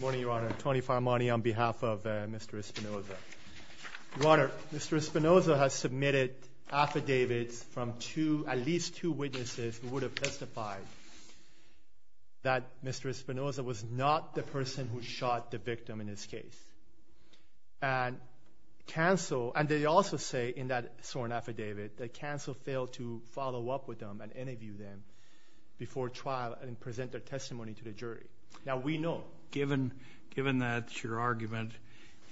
Morning, Your Honor. Tony Faramani on behalf of Mr. Espinoza. Your Honor, Mr. Espinoza has submitted affidavits from at least two witnesses who would have testified that Mr. Espinoza was not the person who shot the victim in his case. And they also say in that sworn affidavit that Cancel failed to follow up with them and interview them before trial and present their testimony to the jury. Now, we know, given that your argument,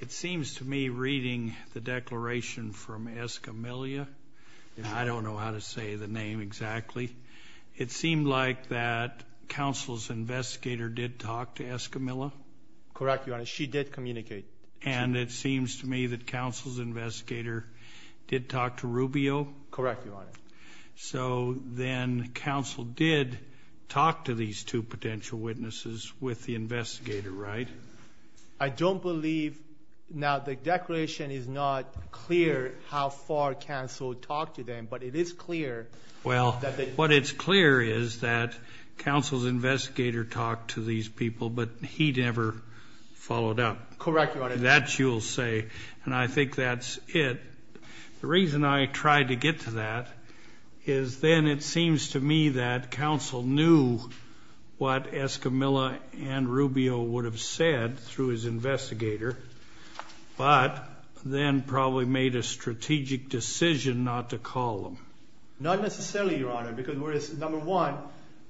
it seems to me reading the declaration from Escamilla, I don't know how to say the name exactly, it seemed like that Counsel's investigator did talk to Escamilla. Correct, Your Honor. She did communicate. And it seems to me that Counsel's investigator did talk to Rubio. Correct, Your Honor. So then Counsel did talk to these two potential witnesses with the investigator, right? I don't believe, now the declaration is not clear how far Counsel talked to them, but it is clear that they Well, what is clear is that Counsel's investigator talked to these people, but he never followed up. Correct, Your Honor. That you'll say. And I think that's it. The reason I tried to get to that is then it seems to me that Counsel knew what Escamilla and Rubio would have said through his investigator, but then probably made a strategic decision not to call them. Not necessarily, Your Honor, because number one,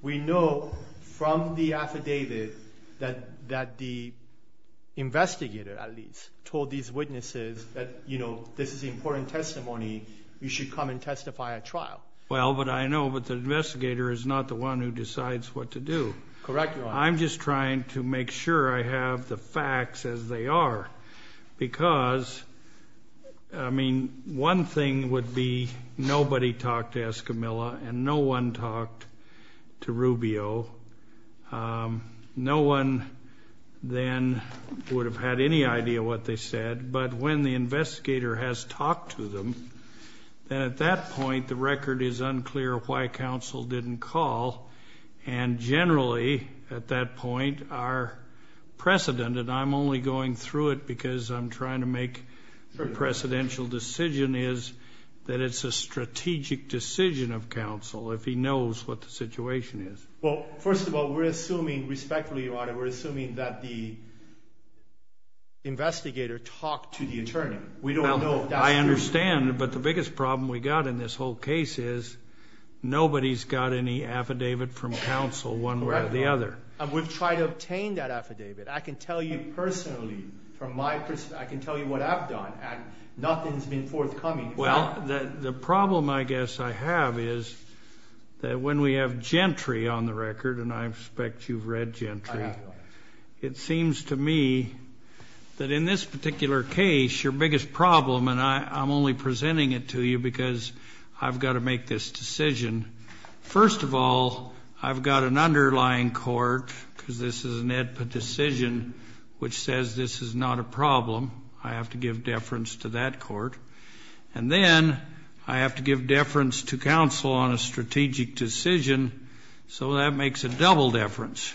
we know from the affidavit that the investigator at least told these witnesses that, you know, this is the important testimony, you should come and testify at trial. Well, but I know that the investigator is not the one who decides what to do. Correct, Your Honor. I'm just trying to make sure I have the facts as they are because, I mean, one thing would be nobody talked to Escamilla and no one talked to Rubio. No one then would have had any idea what they said, but when the investigator has talked to them, then at that point the record is unclear why Counsel didn't call. And generally, at that point, our precedent, and I'm only going through it because I'm trying to make a precedential decision, that it's a strategic decision of Counsel if he knows what the situation is. Well, first of all, we're assuming, respectfully, Your Honor, we're assuming that the investigator talked to the attorney. We don't know if that's true. I understand, but the biggest problem we got in this whole case is nobody's got any affidavit from Counsel one way or the other. And we've tried to obtain that affidavit. I can tell you personally, from my perspective, I can tell you what I've done, and nothing's been forthcoming. Well, the problem I guess I have is that when we have Gentry on the record, and I expect you've read Gentry. I have, Your Honor. It seems to me that in this particular case, your biggest problem, and I'm only presenting it to you because I've got to make this decision. First of all, I've got an underlying court, because this is an AEDPA decision, which says this is not a problem. I have to give deference to that court. And then I have to give deference to Counsel on a strategic decision, so that makes a double deference.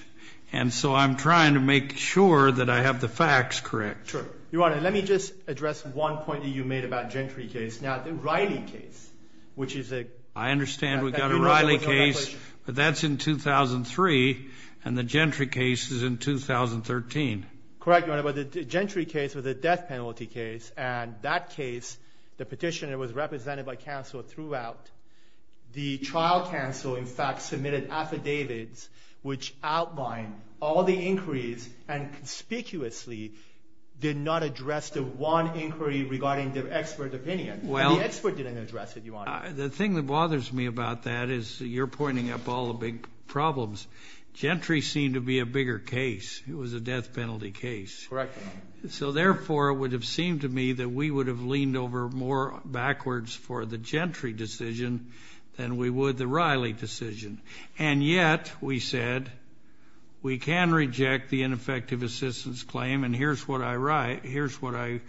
And so I'm trying to make sure that I have the facts correct. Sure. Your Honor, let me just address one point that you made about Gentry case. I understand we've got a Riley case, but that's in 2003, and the Gentry case is in 2013. Correct, Your Honor, but the Gentry case was a death penalty case, and that case, the petitioner was represented by Counsel throughout. The trial counsel, in fact, submitted affidavits which outlined all the inquiries and conspicuously did not address the one inquiry regarding the expert opinion. The expert didn't address it, Your Honor. The thing that bothers me about that is you're pointing up all the big problems. Gentry seemed to be a bigger case. It was a death penalty case. Correct, Your Honor. So, therefore, it would have seemed to me that we would have leaned over more backwards for the Gentry decision than we would the Riley decision. And yet, we said, we can reject the ineffective assistance claim, and here's what I write, here's what I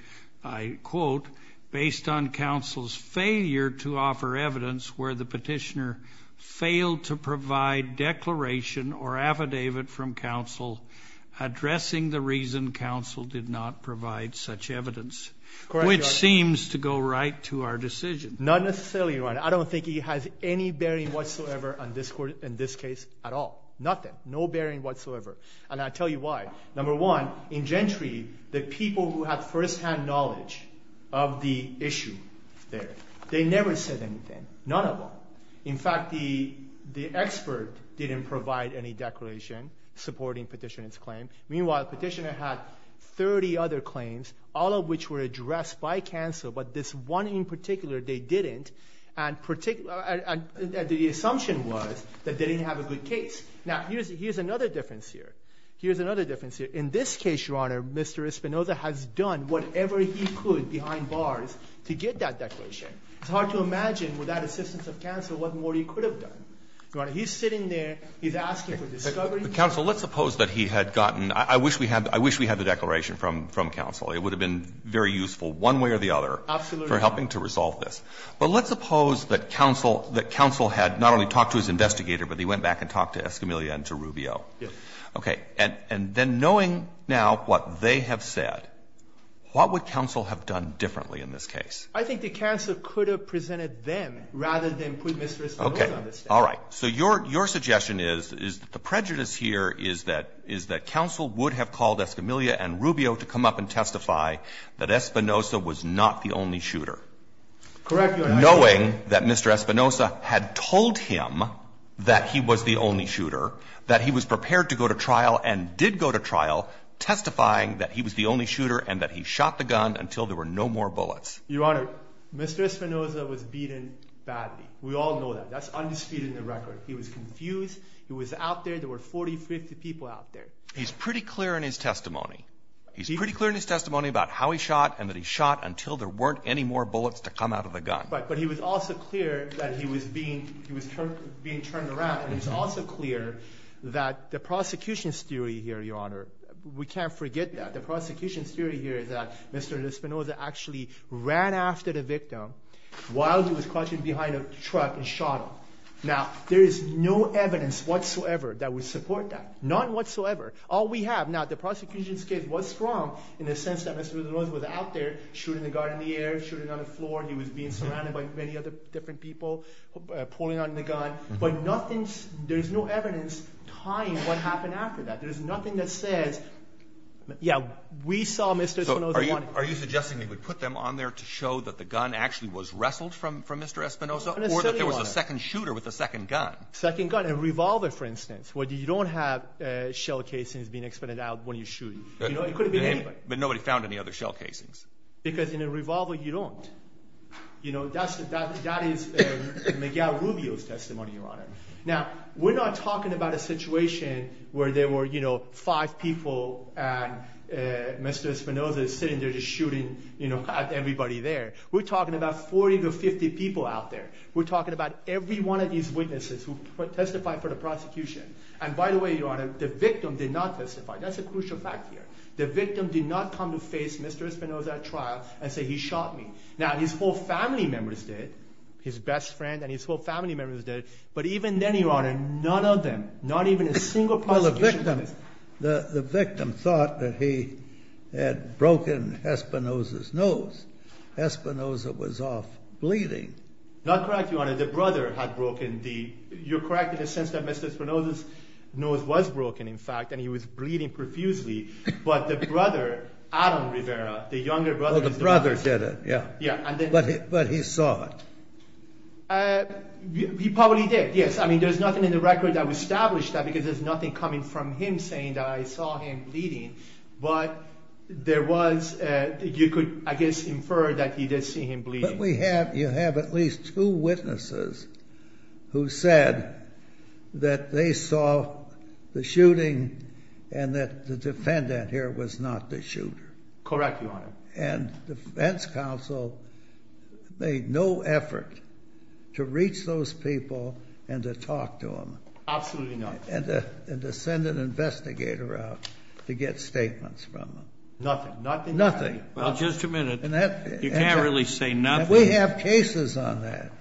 quote, based on Counsel's failure to offer evidence where the petitioner failed to provide declaration or affidavit from Counsel addressing the reason Counsel did not provide such evidence, which seems to go right to our decision. Not necessarily, Your Honor. I don't think it has any bearing whatsoever on this case at all. Nothing. No bearing whatsoever. And I'll tell you why. Number one, in Gentry, the people who have firsthand knowledge of the issue there, they never said anything. None of them. In fact, the expert didn't provide any declaration supporting petitioner's claim. Meanwhile, petitioner had 30 other claims, all of which were addressed by Counsel, but this one in particular, they didn't. And the assumption was that they didn't have a good case. Now, here's another difference here. Here's another difference here. In this case, Your Honor, Mr. Espinoza has done whatever he could behind bars to get that declaration. It's hard to imagine without assistance of Counsel what more he could have done. Your Honor, he's sitting there. He's asking for discovery. Counsel, let's suppose that he had gotten – I wish we had the declaration from Counsel. It would have been very useful one way or the other for helping to resolve this. But let's suppose that Counsel had not only talked to his investigator, but he went back and talked to Escamilla and to Rubio. Okay. And then knowing now what they have said, what would Counsel have done differently in this case? I think that Counsel could have presented them rather than put Mr. Espinoza on the stand. Okay. All right. So your suggestion is that the prejudice here is that Counsel would have called Escamilla and Rubio to come up and testify that Espinoza was not the only shooter. Correct, Your Honor. Knowing that Mr. Espinoza had told him that he was the only shooter, that he was prepared to go to trial and did go to trial testifying that he was the only shooter and that he shot the gun until there were no more bullets. Your Honor, Mr. Espinoza was beaten badly. We all know that. That's undisputed in the record. He was confused. He was out there. There were 40, 50 people out there. He's pretty clear in his testimony. He's pretty clear in his testimony about how he shot and that he shot until there weren't any more bullets to come out of the gun. Right. But he was also clear that he was being turned around. And he was also clear that the prosecution's theory here, Your Honor, we can't forget that. The prosecution's theory here is that Mr. Espinoza actually ran after the victim while he was crouching behind a truck and shot him. Now, there is no evidence whatsoever that would support that, none whatsoever. All we have now, the prosecution's case was strong in the sense that Mr. Espinoza was out there shooting the guard in the air, shooting on the floor. He was being surrounded by many other different people pulling on the gun. But nothing, there's no evidence tying what happened after that. There's nothing that says, yeah, we saw Mr. Espinoza running. So are you suggesting they would put them on there to show that the gun actually was wrestled from Mr. Espinoza? Or that there was a second shooter with a second gun? Second gun and revolver, for instance. Well, you don't have shell casings being expended out when you're shooting. It could have been anybody. But nobody found any other shell casings. Because in a revolver, you don't. That is Miguel Rubio's testimony, Your Honor. Now, we're not talking about a situation where there were five people and Mr. Espinoza is sitting there just shooting everybody there. We're talking about 40 to 50 people out there. We're talking about every one of these witnesses who testified for the prosecution. And by the way, Your Honor, the victim did not testify. That's a crucial fact here. The victim did not come to face Mr. Espinoza at trial and say he shot me. Now, his whole family members did, his best friend and his whole family members did. But even then, Your Honor, none of them, not even a single prosecution witness. Well, the victim thought that he had broken Espinoza's nose. Espinoza was off bleeding. Not correct, Your Honor. The brother had broken the—you're correct in the sense that Mr. Espinoza's nose was broken, in fact, and he was bleeding profusely. But the brother, Adam Rivera, the younger brother— Oh, the brother did it, yeah. Yeah, and then— But he saw it. He probably did, yes. I mean, there's nothing in the record that would establish that because there's nothing coming from him saying that I saw him bleeding. But there was—you could, I guess, infer that he did see him bleeding. But we have—you have at least two witnesses who said that they saw the shooting and that the defendant here was not the shooter. Correct, Your Honor. And defense counsel made no effort to reach those people and to talk to them. Absolutely not. And to send an investigator out to get statements from them. Nothing. Nothing. Nothing. Well, just a minute. You can't really say nothing. And we have cases on that.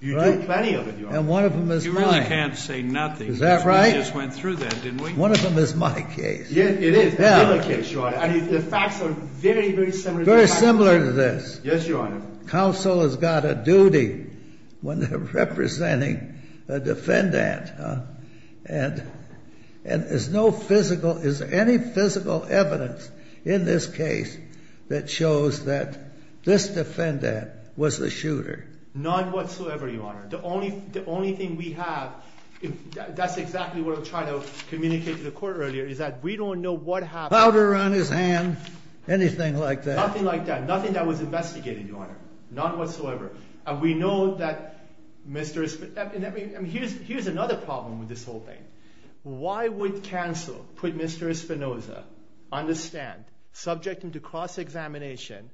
You do plenty of it, Your Honor. And one of them is mine. You really can't say nothing. Is that right? Because we just went through that, didn't we? One of them is my case. Yes, it is. Another case, Your Honor. And the facts are very, very similar to this. Very similar to this. Yes, Your Honor. Counsel has got a duty when they're representing a defendant. And there's no physical—is there any physical evidence in this case that shows that this defendant was the shooter? None whatsoever, Your Honor. The only thing we have—that's exactly what I was trying to communicate to the court earlier—is that we don't know what happened. Powder on his hand? Anything like that? Nothing like that. Nothing that was investigated, Your Honor. Not whatsoever. And we know that Mr. Espinoza—here's another problem with this whole thing. Why would counsel put Mr. Espinoza on the stand, subject him to cross-examination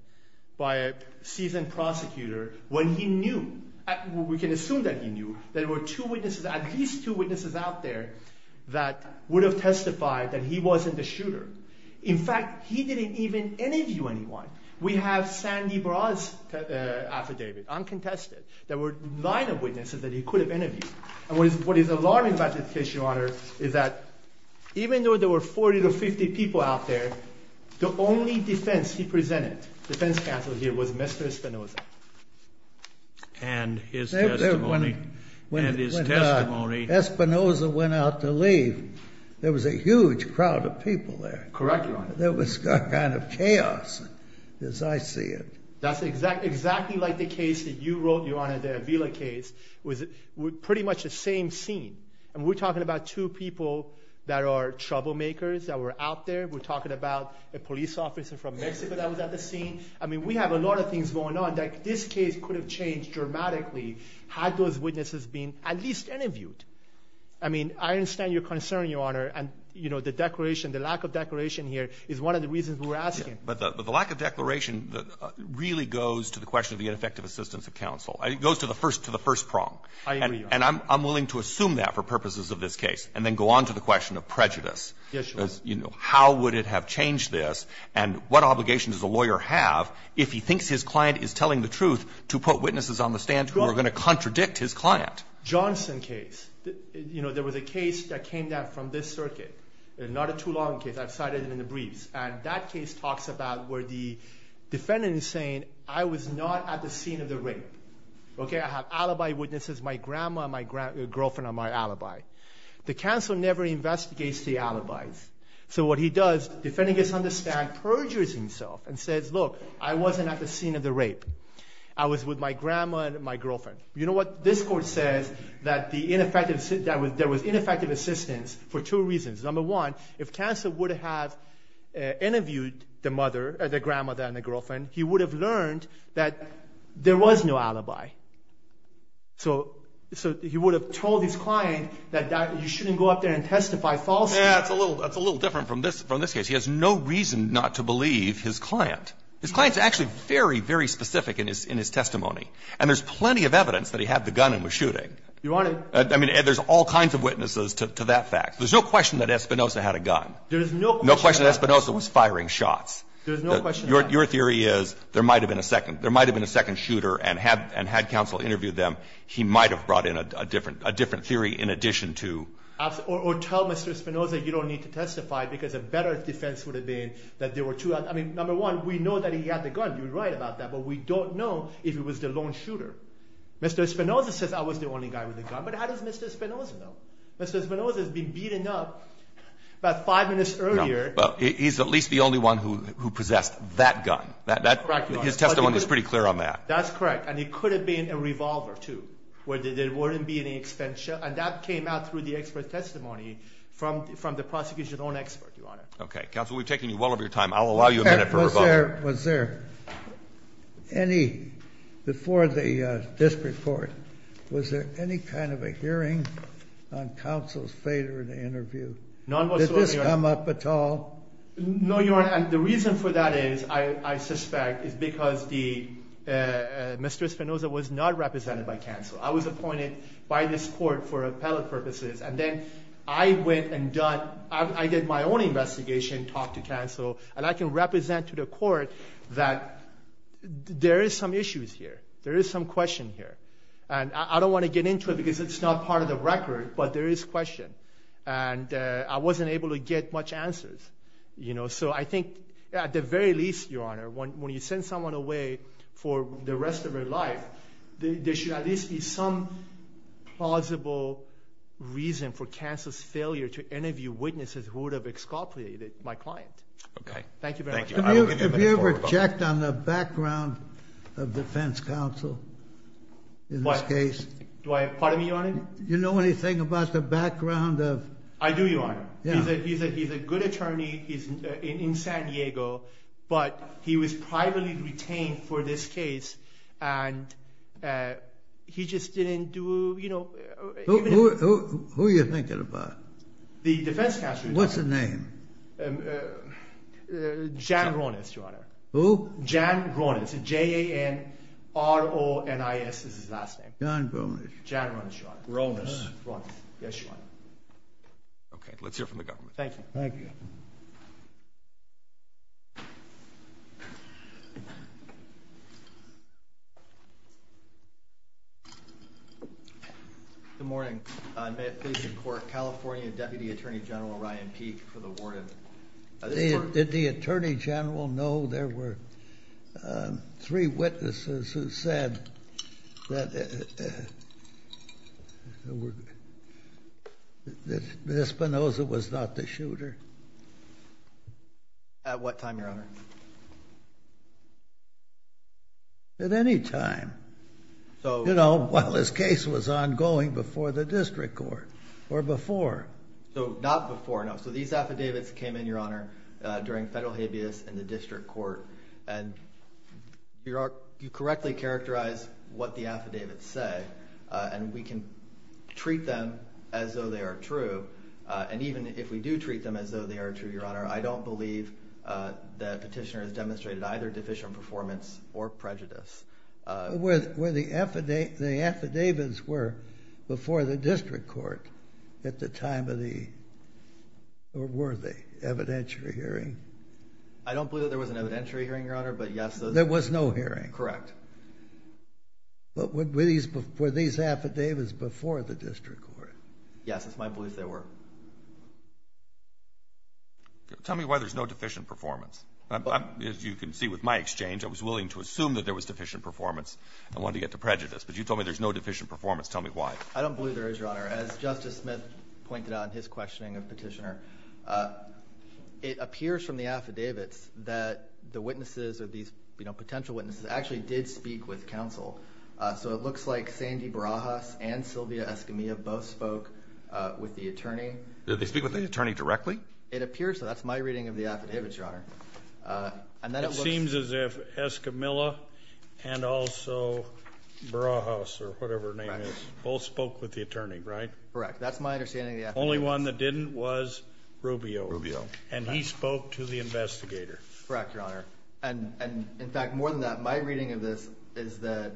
by a seasoned prosecutor, when he knew—we can assume that he knew—that there were two witnesses, at least two witnesses out there, that would have testified that he wasn't the shooter. In fact, he didn't even interview anyone. We have Sandy Braz's affidavit, uncontested. There were nine witnesses that he could have interviewed. And what is alarming about this case, Your Honor, is that even though there were 40 to 50 people out there, the only defense he presented, defense counsel here, was Mr. Espinoza. And his testimony— When Espinoza went out to leave, there was a huge crowd of people there. Correct, Your Honor. There was a kind of chaos, as I see it. That's exactly like the case that you wrote, Your Honor, the Avila case. It was pretty much the same scene. And we're talking about two people that are troublemakers that were out there. We're talking about a police officer from Mexico that was at the scene. I mean, we have a lot of things going on that this case could have changed dramatically had those witnesses been at least interviewed. I mean, I understand your concern, Your Honor. And, you know, the declaration, the lack of declaration here is one of the reasons we're asking. But the lack of declaration really goes to the question of the ineffective assistance of counsel. It goes to the first prong. I agree, Your Honor. And I'm willing to assume that for purposes of this case, and then go on to the question of prejudice. Yes, Your Honor. You know, how would it have changed this, and what obligations does a lawyer have if he thinks his client is telling the truth to put witnesses on the stand who are going to contradict his client? Johnson case. You know, there was a case that came down from this circuit. Not a too long case. I've cited it in the briefs. And that case talks about where the defendant is saying, I was not at the scene of the rape. Okay? I have alibi witnesses. My grandma and my girlfriend are my alibi. The counsel never investigates the alibis. So what he does, the defendant gets on the stand, perjures himself, and says, Look, I wasn't at the scene of the rape. I was with my grandma and my girlfriend. You know what? This court says that there was ineffective assistance for two reasons. Number one, if counsel would have interviewed the grandmother and the girlfriend, he would have learned that there was no alibi. So he would have told his client that you shouldn't go up there and testify falsely. Yeah, that's a little different from this case. He has no reason not to believe his client. His client is actually very, very specific in his testimony. And there's plenty of evidence that he had the gun and was shooting. Your Honor. I mean, there's all kinds of witnesses to that fact. There's no question that Espinoza had a gun. There's no question that Espinoza was firing shots. Your theory is there might have been a second shooter, and had counsel interviewed them, he might have brought in a different theory in addition to. Or tell Mr. Espinoza you don't need to testify because a better defense would have been that there were two. I mean, number one, we know that he had the gun. You're right about that. But we don't know if it was the lone shooter. Mr. Espinoza says I was the only guy with a gun. But how does Mr. Espinoza know? Mr. Espinoza has been beaten up about five minutes earlier. Well, he's at least the only one who possessed that gun. That's correct, Your Honor. His testimony is pretty clear on that. That's correct. And it could have been a revolver, too, where there wouldn't be any extension. And that came out through the expert testimony from the prosecution's own expert, Your Honor. Counsel, we've taken you well over your time. I'll allow you a minute for rebuttal. Was there any, before the district court, was there any kind of a hearing on Counsel's failure in the interview? None whatsoever, Your Honor. Did this come up at all? No, Your Honor. And the reason for that is, I suspect, is because Mr. Espinoza was not represented by counsel. I was appointed by this court for appellate purposes. And then I went and done, I did my own investigation, talked to counsel, and I can represent to the court that there is some issues here. There is some question here. And I don't want to get into it because it's not part of the record, but there is question. And I wasn't able to get much answers. You know, so I think, at the very least, Your Honor, when you send someone away for the rest of their life, there should at least be some plausible reason for Counsel's failure to interview witnesses who would have exculpated my client. Okay. Thank you very much. Thank you. I will give you a minute for rebuttal. Have you ever checked on the background of defense counsel in this case? Pardon me, Your Honor? Do you know anything about the background of… I do, Your Honor. Yeah. He's a good attorney in San Diego, but he was privately retained for this case, and he just didn't do, you know… Who are you thinking about? The defense counsel, Your Honor. What's his name? Jan Ronis, Your Honor. Who? Jan Ronis. J-A-N-R-O-N-I-S is his last name. Jan Ronis. Jan Ronis, Your Honor. Ronis. Ronis. Yes, Your Honor. Okay. Let's hear from the government. Thank you. Thank you. Good morning. May it please the Court, California Deputy Attorney General Ryan Peek for the word of the Court. Did the Attorney General know there were three witnesses who said that Espinoza was not the shooter? At what time, Your Honor? At any time. So… You know, while this case was ongoing before the district court or before. So not before, no. So these affidavits came in, Your Honor, during federal habeas in the district court. And you correctly characterize what the affidavits say. And we can treat them as though they are true. And even if we do treat them as though they are true, Your Honor, I don't believe the petitioner has demonstrated either deficient performance or prejudice. Where the affidavits were before the district court at the time of the, or were they, evidentiary hearing? I don't believe that there was an evidentiary hearing, Your Honor, but yes. There was no hearing. Correct. But were these affidavits before the district court? Yes, it's my belief they were. Tell me why there's no deficient performance. As you can see with my exchange, I was willing to assume that there was deficient performance and wanted to get to prejudice. But you told me there's no deficient performance. Tell me why. I don't believe there is, Your Honor. As Justice Smith pointed out in his questioning of the petitioner, it appears from the affidavits that the witnesses or these potential witnesses actually did speak with counsel. So it looks like Sandy Barajas and Sylvia Escamilla both spoke with the attorney. Did they speak with the attorney directly? It appears so. That's my reading of the affidavits, Your Honor. It seems as if Escamilla and also Barajas or whatever her name is both spoke with the attorney, right? Correct. That's my understanding of the affidavits. The only one that didn't was Rubio. Rubio. And he spoke to the investigator. Correct, Your Honor. And, in fact, more than that, my reading of this is that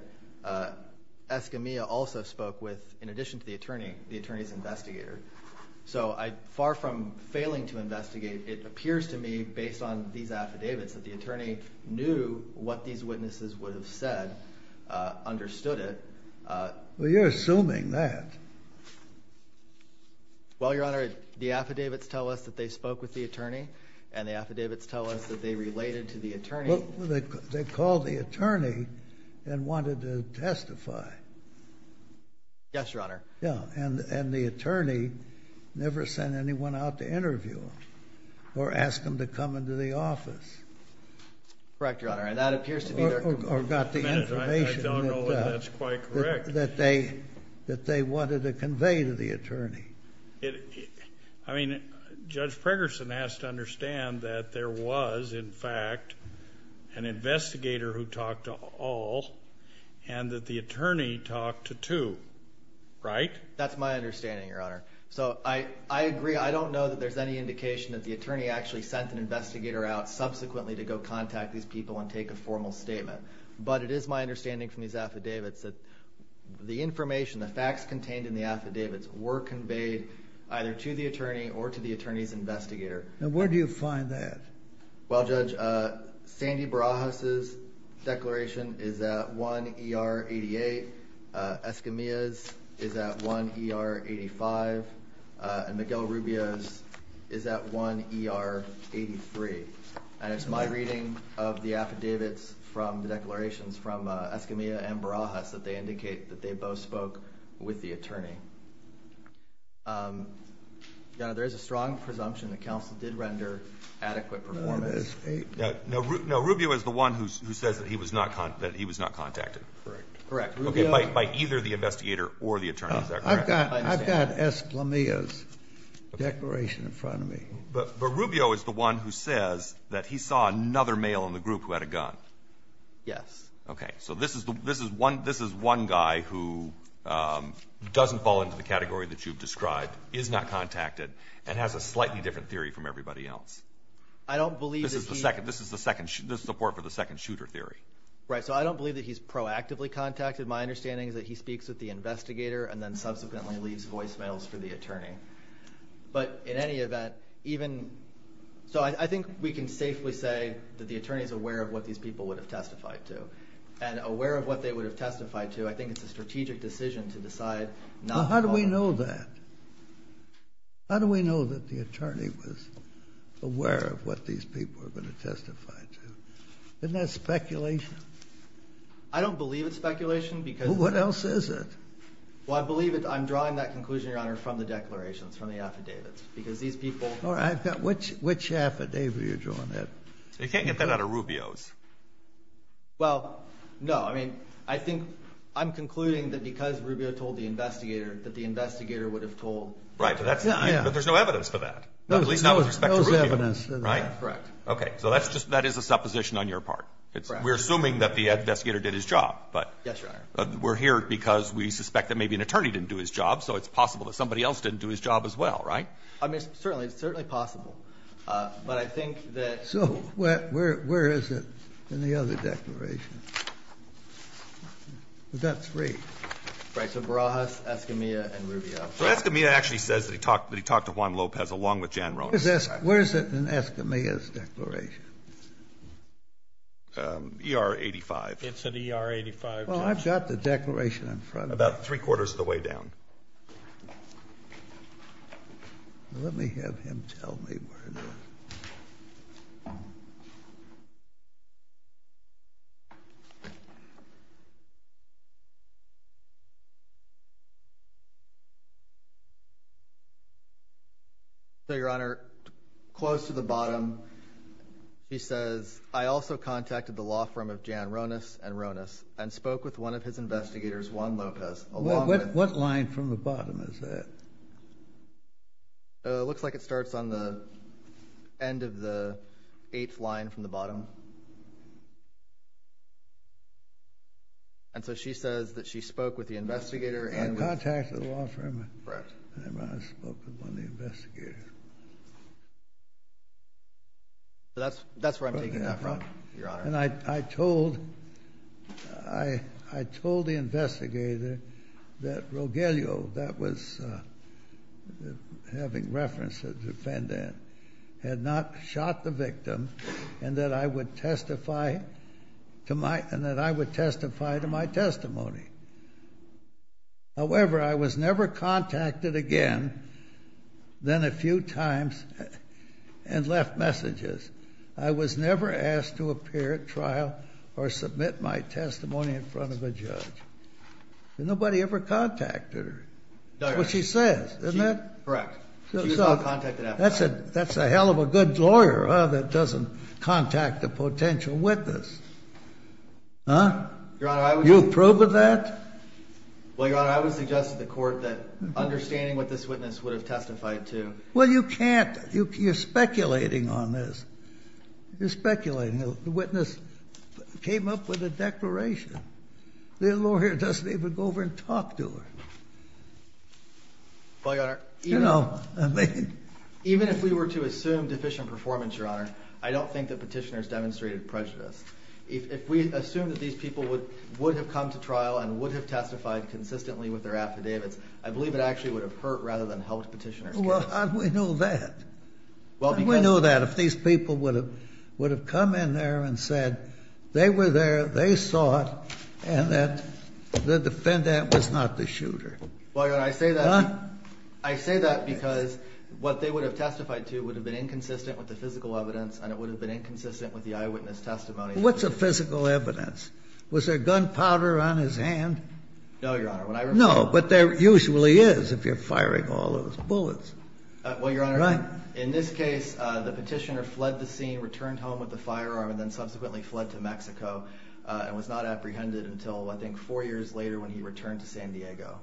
Escamilla also spoke with, in addition to the attorney, the attorney's investigator. So far from failing to investigate, it appears to me, based on these affidavits, that the attorney knew what these witnesses would have said, understood it. Well, you're assuming that. Well, Your Honor, the affidavits tell us that they spoke with the attorney, and the affidavits tell us that they related to the attorney. Well, they called the attorney and wanted to testify. Yes, Your Honor. Yes, and the attorney never sent anyone out to interview them or ask them to come into the office. Correct, Your Honor. And that appears to be their complaint. Or got the information that they wanted to convey to the attorney. I mean, Judge Pregerson has to understand that there was, in fact, an investigator who talked to all and that the attorney talked to two, right? That's my understanding, Your Honor. So I agree. I don't know that there's any indication that the attorney actually sent an investigator out subsequently to go contact these people and take a formal statement. But it is my understanding from these affidavits that the information, the facts contained in the affidavits were conveyed either to the attorney or to the attorney's investigator. Now, where do you find that? Well, Judge, Sandy Barajas' declaration is at 1 ER 88. Escamilla's is at 1 ER 85. And Miguel Rubio's is at 1 ER 83. And it's my reading of the affidavits from the declarations from Escamilla and Barajas that they indicate that they both spoke with the attorney. Your Honor, there is a strong presumption that counsel did render adequate performance. No, Rubio is the one who says that he was not contacted. Correct. Okay, by either the investigator or the attorney, is that correct? I've got Escamilla's declaration in front of me. But Rubio is the one who says that he saw another male in the group who had a gun. Yes. Okay, so this is one guy who doesn't fall into the category that you've described, is not contacted, and has a slightly different theory from everybody else. This is the support for the second shooter theory. Right, so I don't believe that he's proactively contacted. My understanding is that he speaks with the investigator and then subsequently leaves voicemails for the attorney. But in any event, even – so I think we can safely say that the attorney is aware of what these people would have testified to. And aware of what they would have testified to, I think it's a strategic decision to decide not to call him. Well, how do we know that? How do we know that the attorney was aware of what these people were going to testify to? Isn't that speculation? I don't believe it's speculation because – Well, what else is it? Well, I believe I'm drawing that conclusion, Your Honor, from the declarations, from the affidavits, because these people – All right, which affidavit are you drawing there? You can't get that out of Rubio's. Well, no, I mean, I think I'm concluding that because Rubio told the investigator that the investigator would have told – Right, but there's no evidence for that, at least not with respect to Rubio. There's no evidence for that. Right? Correct. Okay, so that is a supposition on your part. Correct. We're assuming that the investigator did his job, but – Yes, Your Honor. We're here because we suspect that maybe an attorney didn't do his job, so it's possible that somebody else didn't do his job as well. Right? I mean, certainly. It's certainly possible. But I think that – So where is it in the other declaration? Is that three? Right. So Barajas, Escamilla, and Rubio. So Escamilla actually says that he talked to Juan Lopez, along with Jan Rones. Where is it in Escamilla's declaration? ER-85. It's in ER-85. Well, I've got the declaration in front of me. About three-quarters of the way down. Let me have him tell me where it is. So, Your Honor, close to the bottom, he says, I also contacted the law firm of Jan Rones and Rones and spoke with one of his investigators, Juan Lopez. What line from the bottom is that? It looks like it starts on the end of the eighth line from the bottom. And so she says that she spoke with the investigator and – Contacted the law firm of Jan Rones and spoke with one of the investigators. That's where I'm taking that from, Your Honor. And I told the investigator that Rogelio, that was having reference to the defendant, had not shot the victim and that I would testify to my testimony. However, I was never contacted again than a few times and left messages. I was never asked to appear at trial or submit my testimony in front of a judge. Nobody ever contacted her. That's what she says, isn't it? Correct. She was not contacted after that. That's a hell of a good lawyer, huh, that doesn't contact a potential witness. Huh? Your Honor, I would – You approve of that? Well, Your Honor, I would suggest to the court that understanding what this witness would have testified to – Well, you can't. You're speculating on this. You're speculating. The witness came up with a declaration. The lawyer doesn't even go over and talk to her. Well, Your Honor, even if we were to assume deficient performance, Your Honor, I don't think that petitioners demonstrated prejudice. If we assume that these people would have come to trial and would have testified consistently with their affidavits, I believe it actually would have hurt rather than helped petitioners case. Well, how do we know that? How do we know that if these people would have come in there and said they were there, they saw it, and that the defendant was not the shooter? Well, Your Honor, I say that because what they would have testified to would have been inconsistent with the physical evidence, and it would have been inconsistent with the eyewitness testimony. What's the physical evidence? No, Your Honor. No, but there usually is if you're firing all those bullets. Well, Your Honor, in this case, the petitioner fled the scene, returned home with the firearm, and then subsequently fled to Mexico and was not apprehended until I think four years later when he returned to San Diego.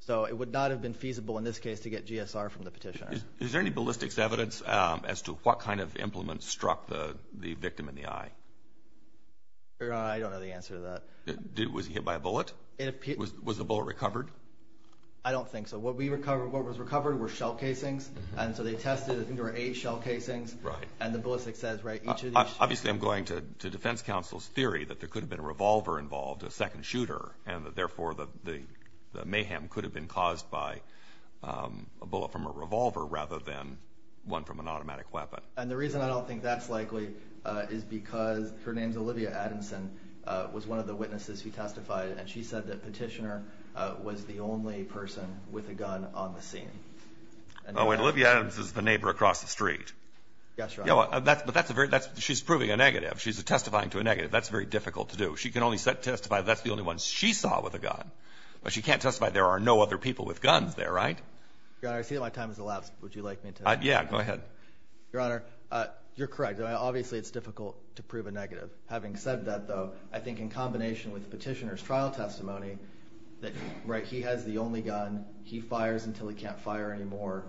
So it would not have been feasible in this case to get GSR from the petitioner. Is there any ballistics evidence as to what kind of implement struck the victim in the eye? Your Honor, I don't know the answer to that. Was he hit by a bullet? Was the bullet recovered? I don't think so. What was recovered were shell casings, and so they tested. I think there were eight shell casings. Right. And the ballistics says, right, each of these. Obviously, I'm going to defense counsel's theory that there could have been a revolver involved, a second shooter, and that therefore the mayhem could have been caused by a bullet from a revolver rather than one from an automatic weapon. And the reason I don't think that's likely is because her name's Olivia Adamson, was one of the witnesses who testified, and she said that Petitioner was the only person with a gun on the scene. Oh, wait. Olivia Adams is the neighbor across the street. Yes, Your Honor. But that's a very – she's proving a negative. She's testifying to a negative. That's very difficult to do. She can only testify that that's the only one she saw with a gun. But she can't testify there are no other people with guns there, right? Your Honor, I see that my time has elapsed. Would you like me to – Yeah, go ahead. Your Honor, you're correct. Obviously, it's difficult to prove a negative. Having said that, though, I think in combination with Petitioner's trial testimony that, right, he has the only gun. He fires until he can't fire anymore.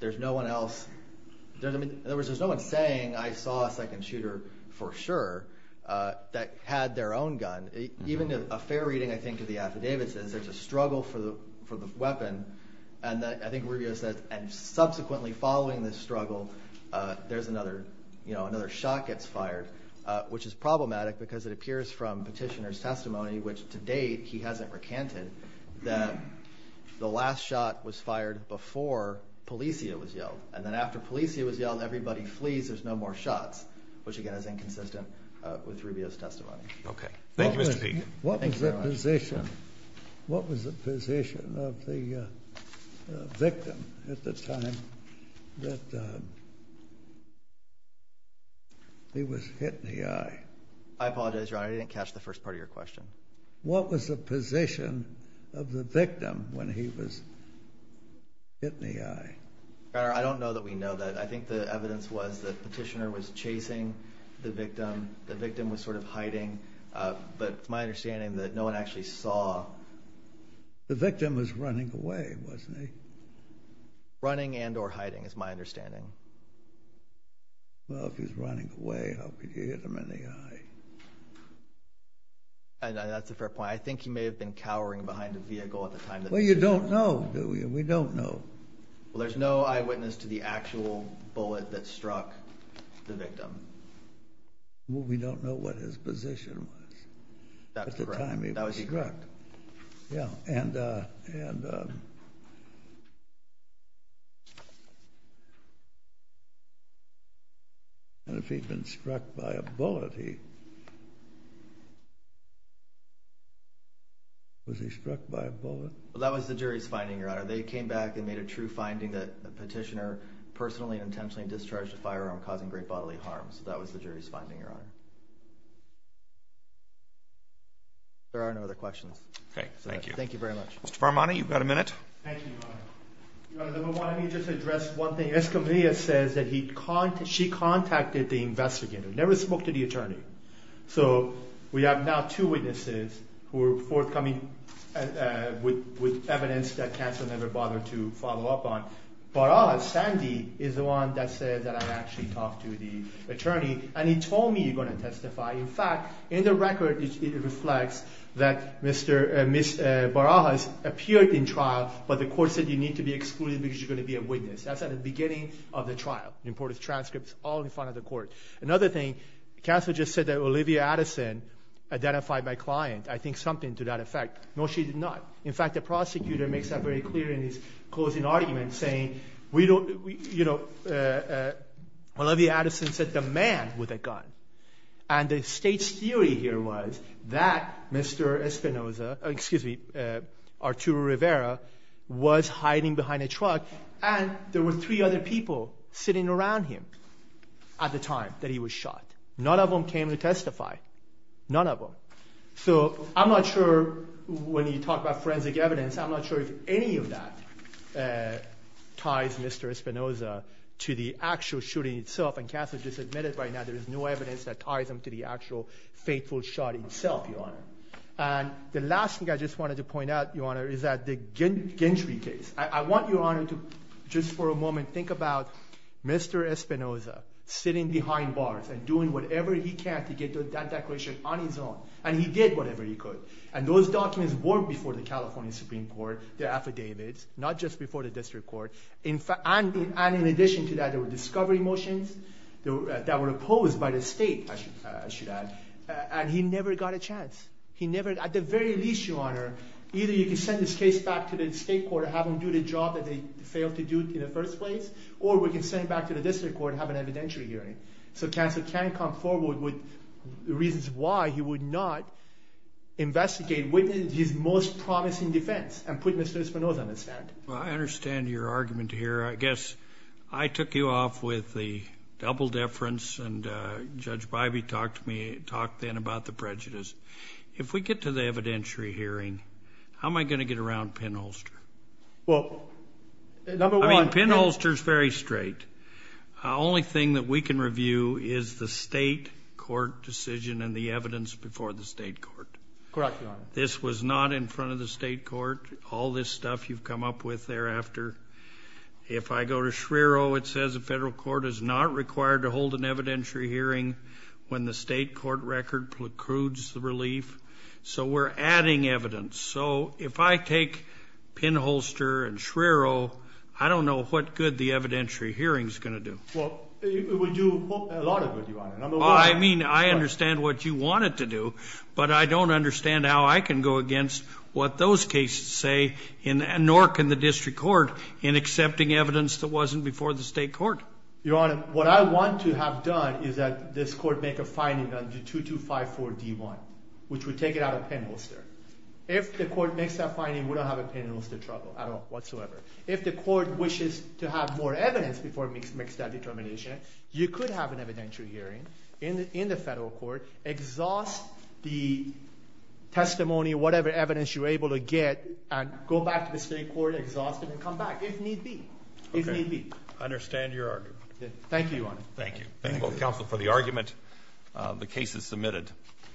There's no one else – in other words, there's no one saying I saw a second shooter for sure that had their own gun. Even a fair reading, I think, of the affidavit says there's a struggle for the weapon, and I think Rubio says, and subsequently following this struggle, there's another – you know, another shot gets fired, which is problematic because it appears from Petitioner's testimony, which to date he hasn't recanted, that the last shot was fired before Polizia was yelled. And then after Polizia was yelled and everybody flees, there's no more shots, which, again, is inconsistent with Rubio's testimony. Okay. Thank you, Mr. Pagan. Thank you very much. What was the position of the victim at the time that he was hit in the eye? I apologize, Your Honor. I didn't catch the first part of your question. What was the position of the victim when he was hit in the eye? Your Honor, I don't know that we know that. I think the evidence was that Petitioner was chasing the victim. The victim was sort of hiding, but it's my understanding that no one actually saw. The victim was running away, wasn't he? Running and or hiding is my understanding. Well, if he was running away, how could you hit him in the eye? That's a fair point. I think he may have been cowering behind a vehicle at the time. Well, you don't know, do you? We don't know. Well, there's no eyewitness to the actual bullet that struck the victim. Well, we don't know what his position was at the time he was struck. Yeah, and if he'd been struck by a bullet, was he struck by a bullet? Well, that was the jury's finding, Your Honor. They came back and made a true finding that Petitioner personally and intentionally discharged a firearm causing great bodily harm. So that was the jury's finding, Your Honor. There are no other questions. Okay, thank you. Thank you very much. Mr. Farmani, you've got a minute. Thank you, Your Honor. Your Honor, let me just address one thing. Escamilla says that she contacted the investigator, never spoke to the attorney. So we have now two witnesses who are forthcoming with evidence that counsel never bothered to follow up on. Barajas, Sandy, is the one that said that I actually talked to the attorney, and he told me you're going to testify. In fact, in the record, it reflects that Barajas appeared in trial, but the court said you need to be excluded because you're going to be a witness. That's at the beginning of the trial. You reported transcripts all in front of the court. Another thing, counsel just said that Olivia Addison identified my client. I think something to that effect. No, she did not. In fact, the prosecutor makes that very clear in his closing argument, saying, you know, Olivia Addison said the man with the gun. And the state's theory here was that Mr. Espinoza, excuse me, Arturo Rivera, was hiding behind a truck, and there were three other people sitting around him at the time that he was shot. None of them came to testify. None of them. So I'm not sure when you talk about forensic evidence, I'm not sure if any of that ties Mr. Espinoza to the actual shooting itself, and counsel just admitted right now there is no evidence that ties him to the actual fateful shot itself, Your Honor. And the last thing I just wanted to point out, Your Honor, is that the Gentry case. I want Your Honor to just for a moment think about Mr. Espinoza sitting behind bars and doing whatever he can to get that declaration on his own. And he did whatever he could. And those documents were before the California Supreme Court, the affidavits, not just before the district court. And in addition to that, there were discovery motions that were opposed by the state, I should add. And he never got a chance. At the very least, Your Honor, either you can send this case back to the state court and have them do the job that they failed to do in the first place, or we can send it back to the district court and have an evidentiary hearing. So counsel can come forward with reasons why he would not investigate, witness his most promising defense and put Mr. Espinoza on the stand. Well, I understand your argument here. I guess I took you off with the double deference, and Judge Bybee talked to me, talked then about the prejudice. If we get to the evidentiary hearing, how am I going to get around Penn Holster? Well, number one – I mean, Penn Holster is very straight. The only thing that we can review is the state court decision and the evidence before the state court. Correct, Your Honor. This was not in front of the state court. All this stuff you've come up with thereafter. If I go to Schriero, it says the federal court is not required to hold an evidentiary hearing when the state court record precludes the relief. So we're adding evidence. So if I take Penn Holster and Schriero, I don't know what good the evidentiary hearing is going to do. Well, it would do a lot of good, Your Honor. I mean, I understand what you want it to do, but I don't understand how I can go against what those cases say, nor can the district court in accepting evidence that wasn't before the state court. Your Honor, what I want to have done is that this court make a finding on 2254D1, which would take it out of Penn Holster. If the court makes that finding, we don't have a Penn Holster trouble at all whatsoever. If the court wishes to have more evidence before it makes that determination, you could have an evidentiary hearing in the federal court, exhaust the testimony, whatever evidence you're able to get, and go back to the state court, exhaust it, and come back, if need be. Okay. If need be. I understand your argument. Thank you, Your Honor. Thank you. Thank both counsel for the argument. The case is submitted.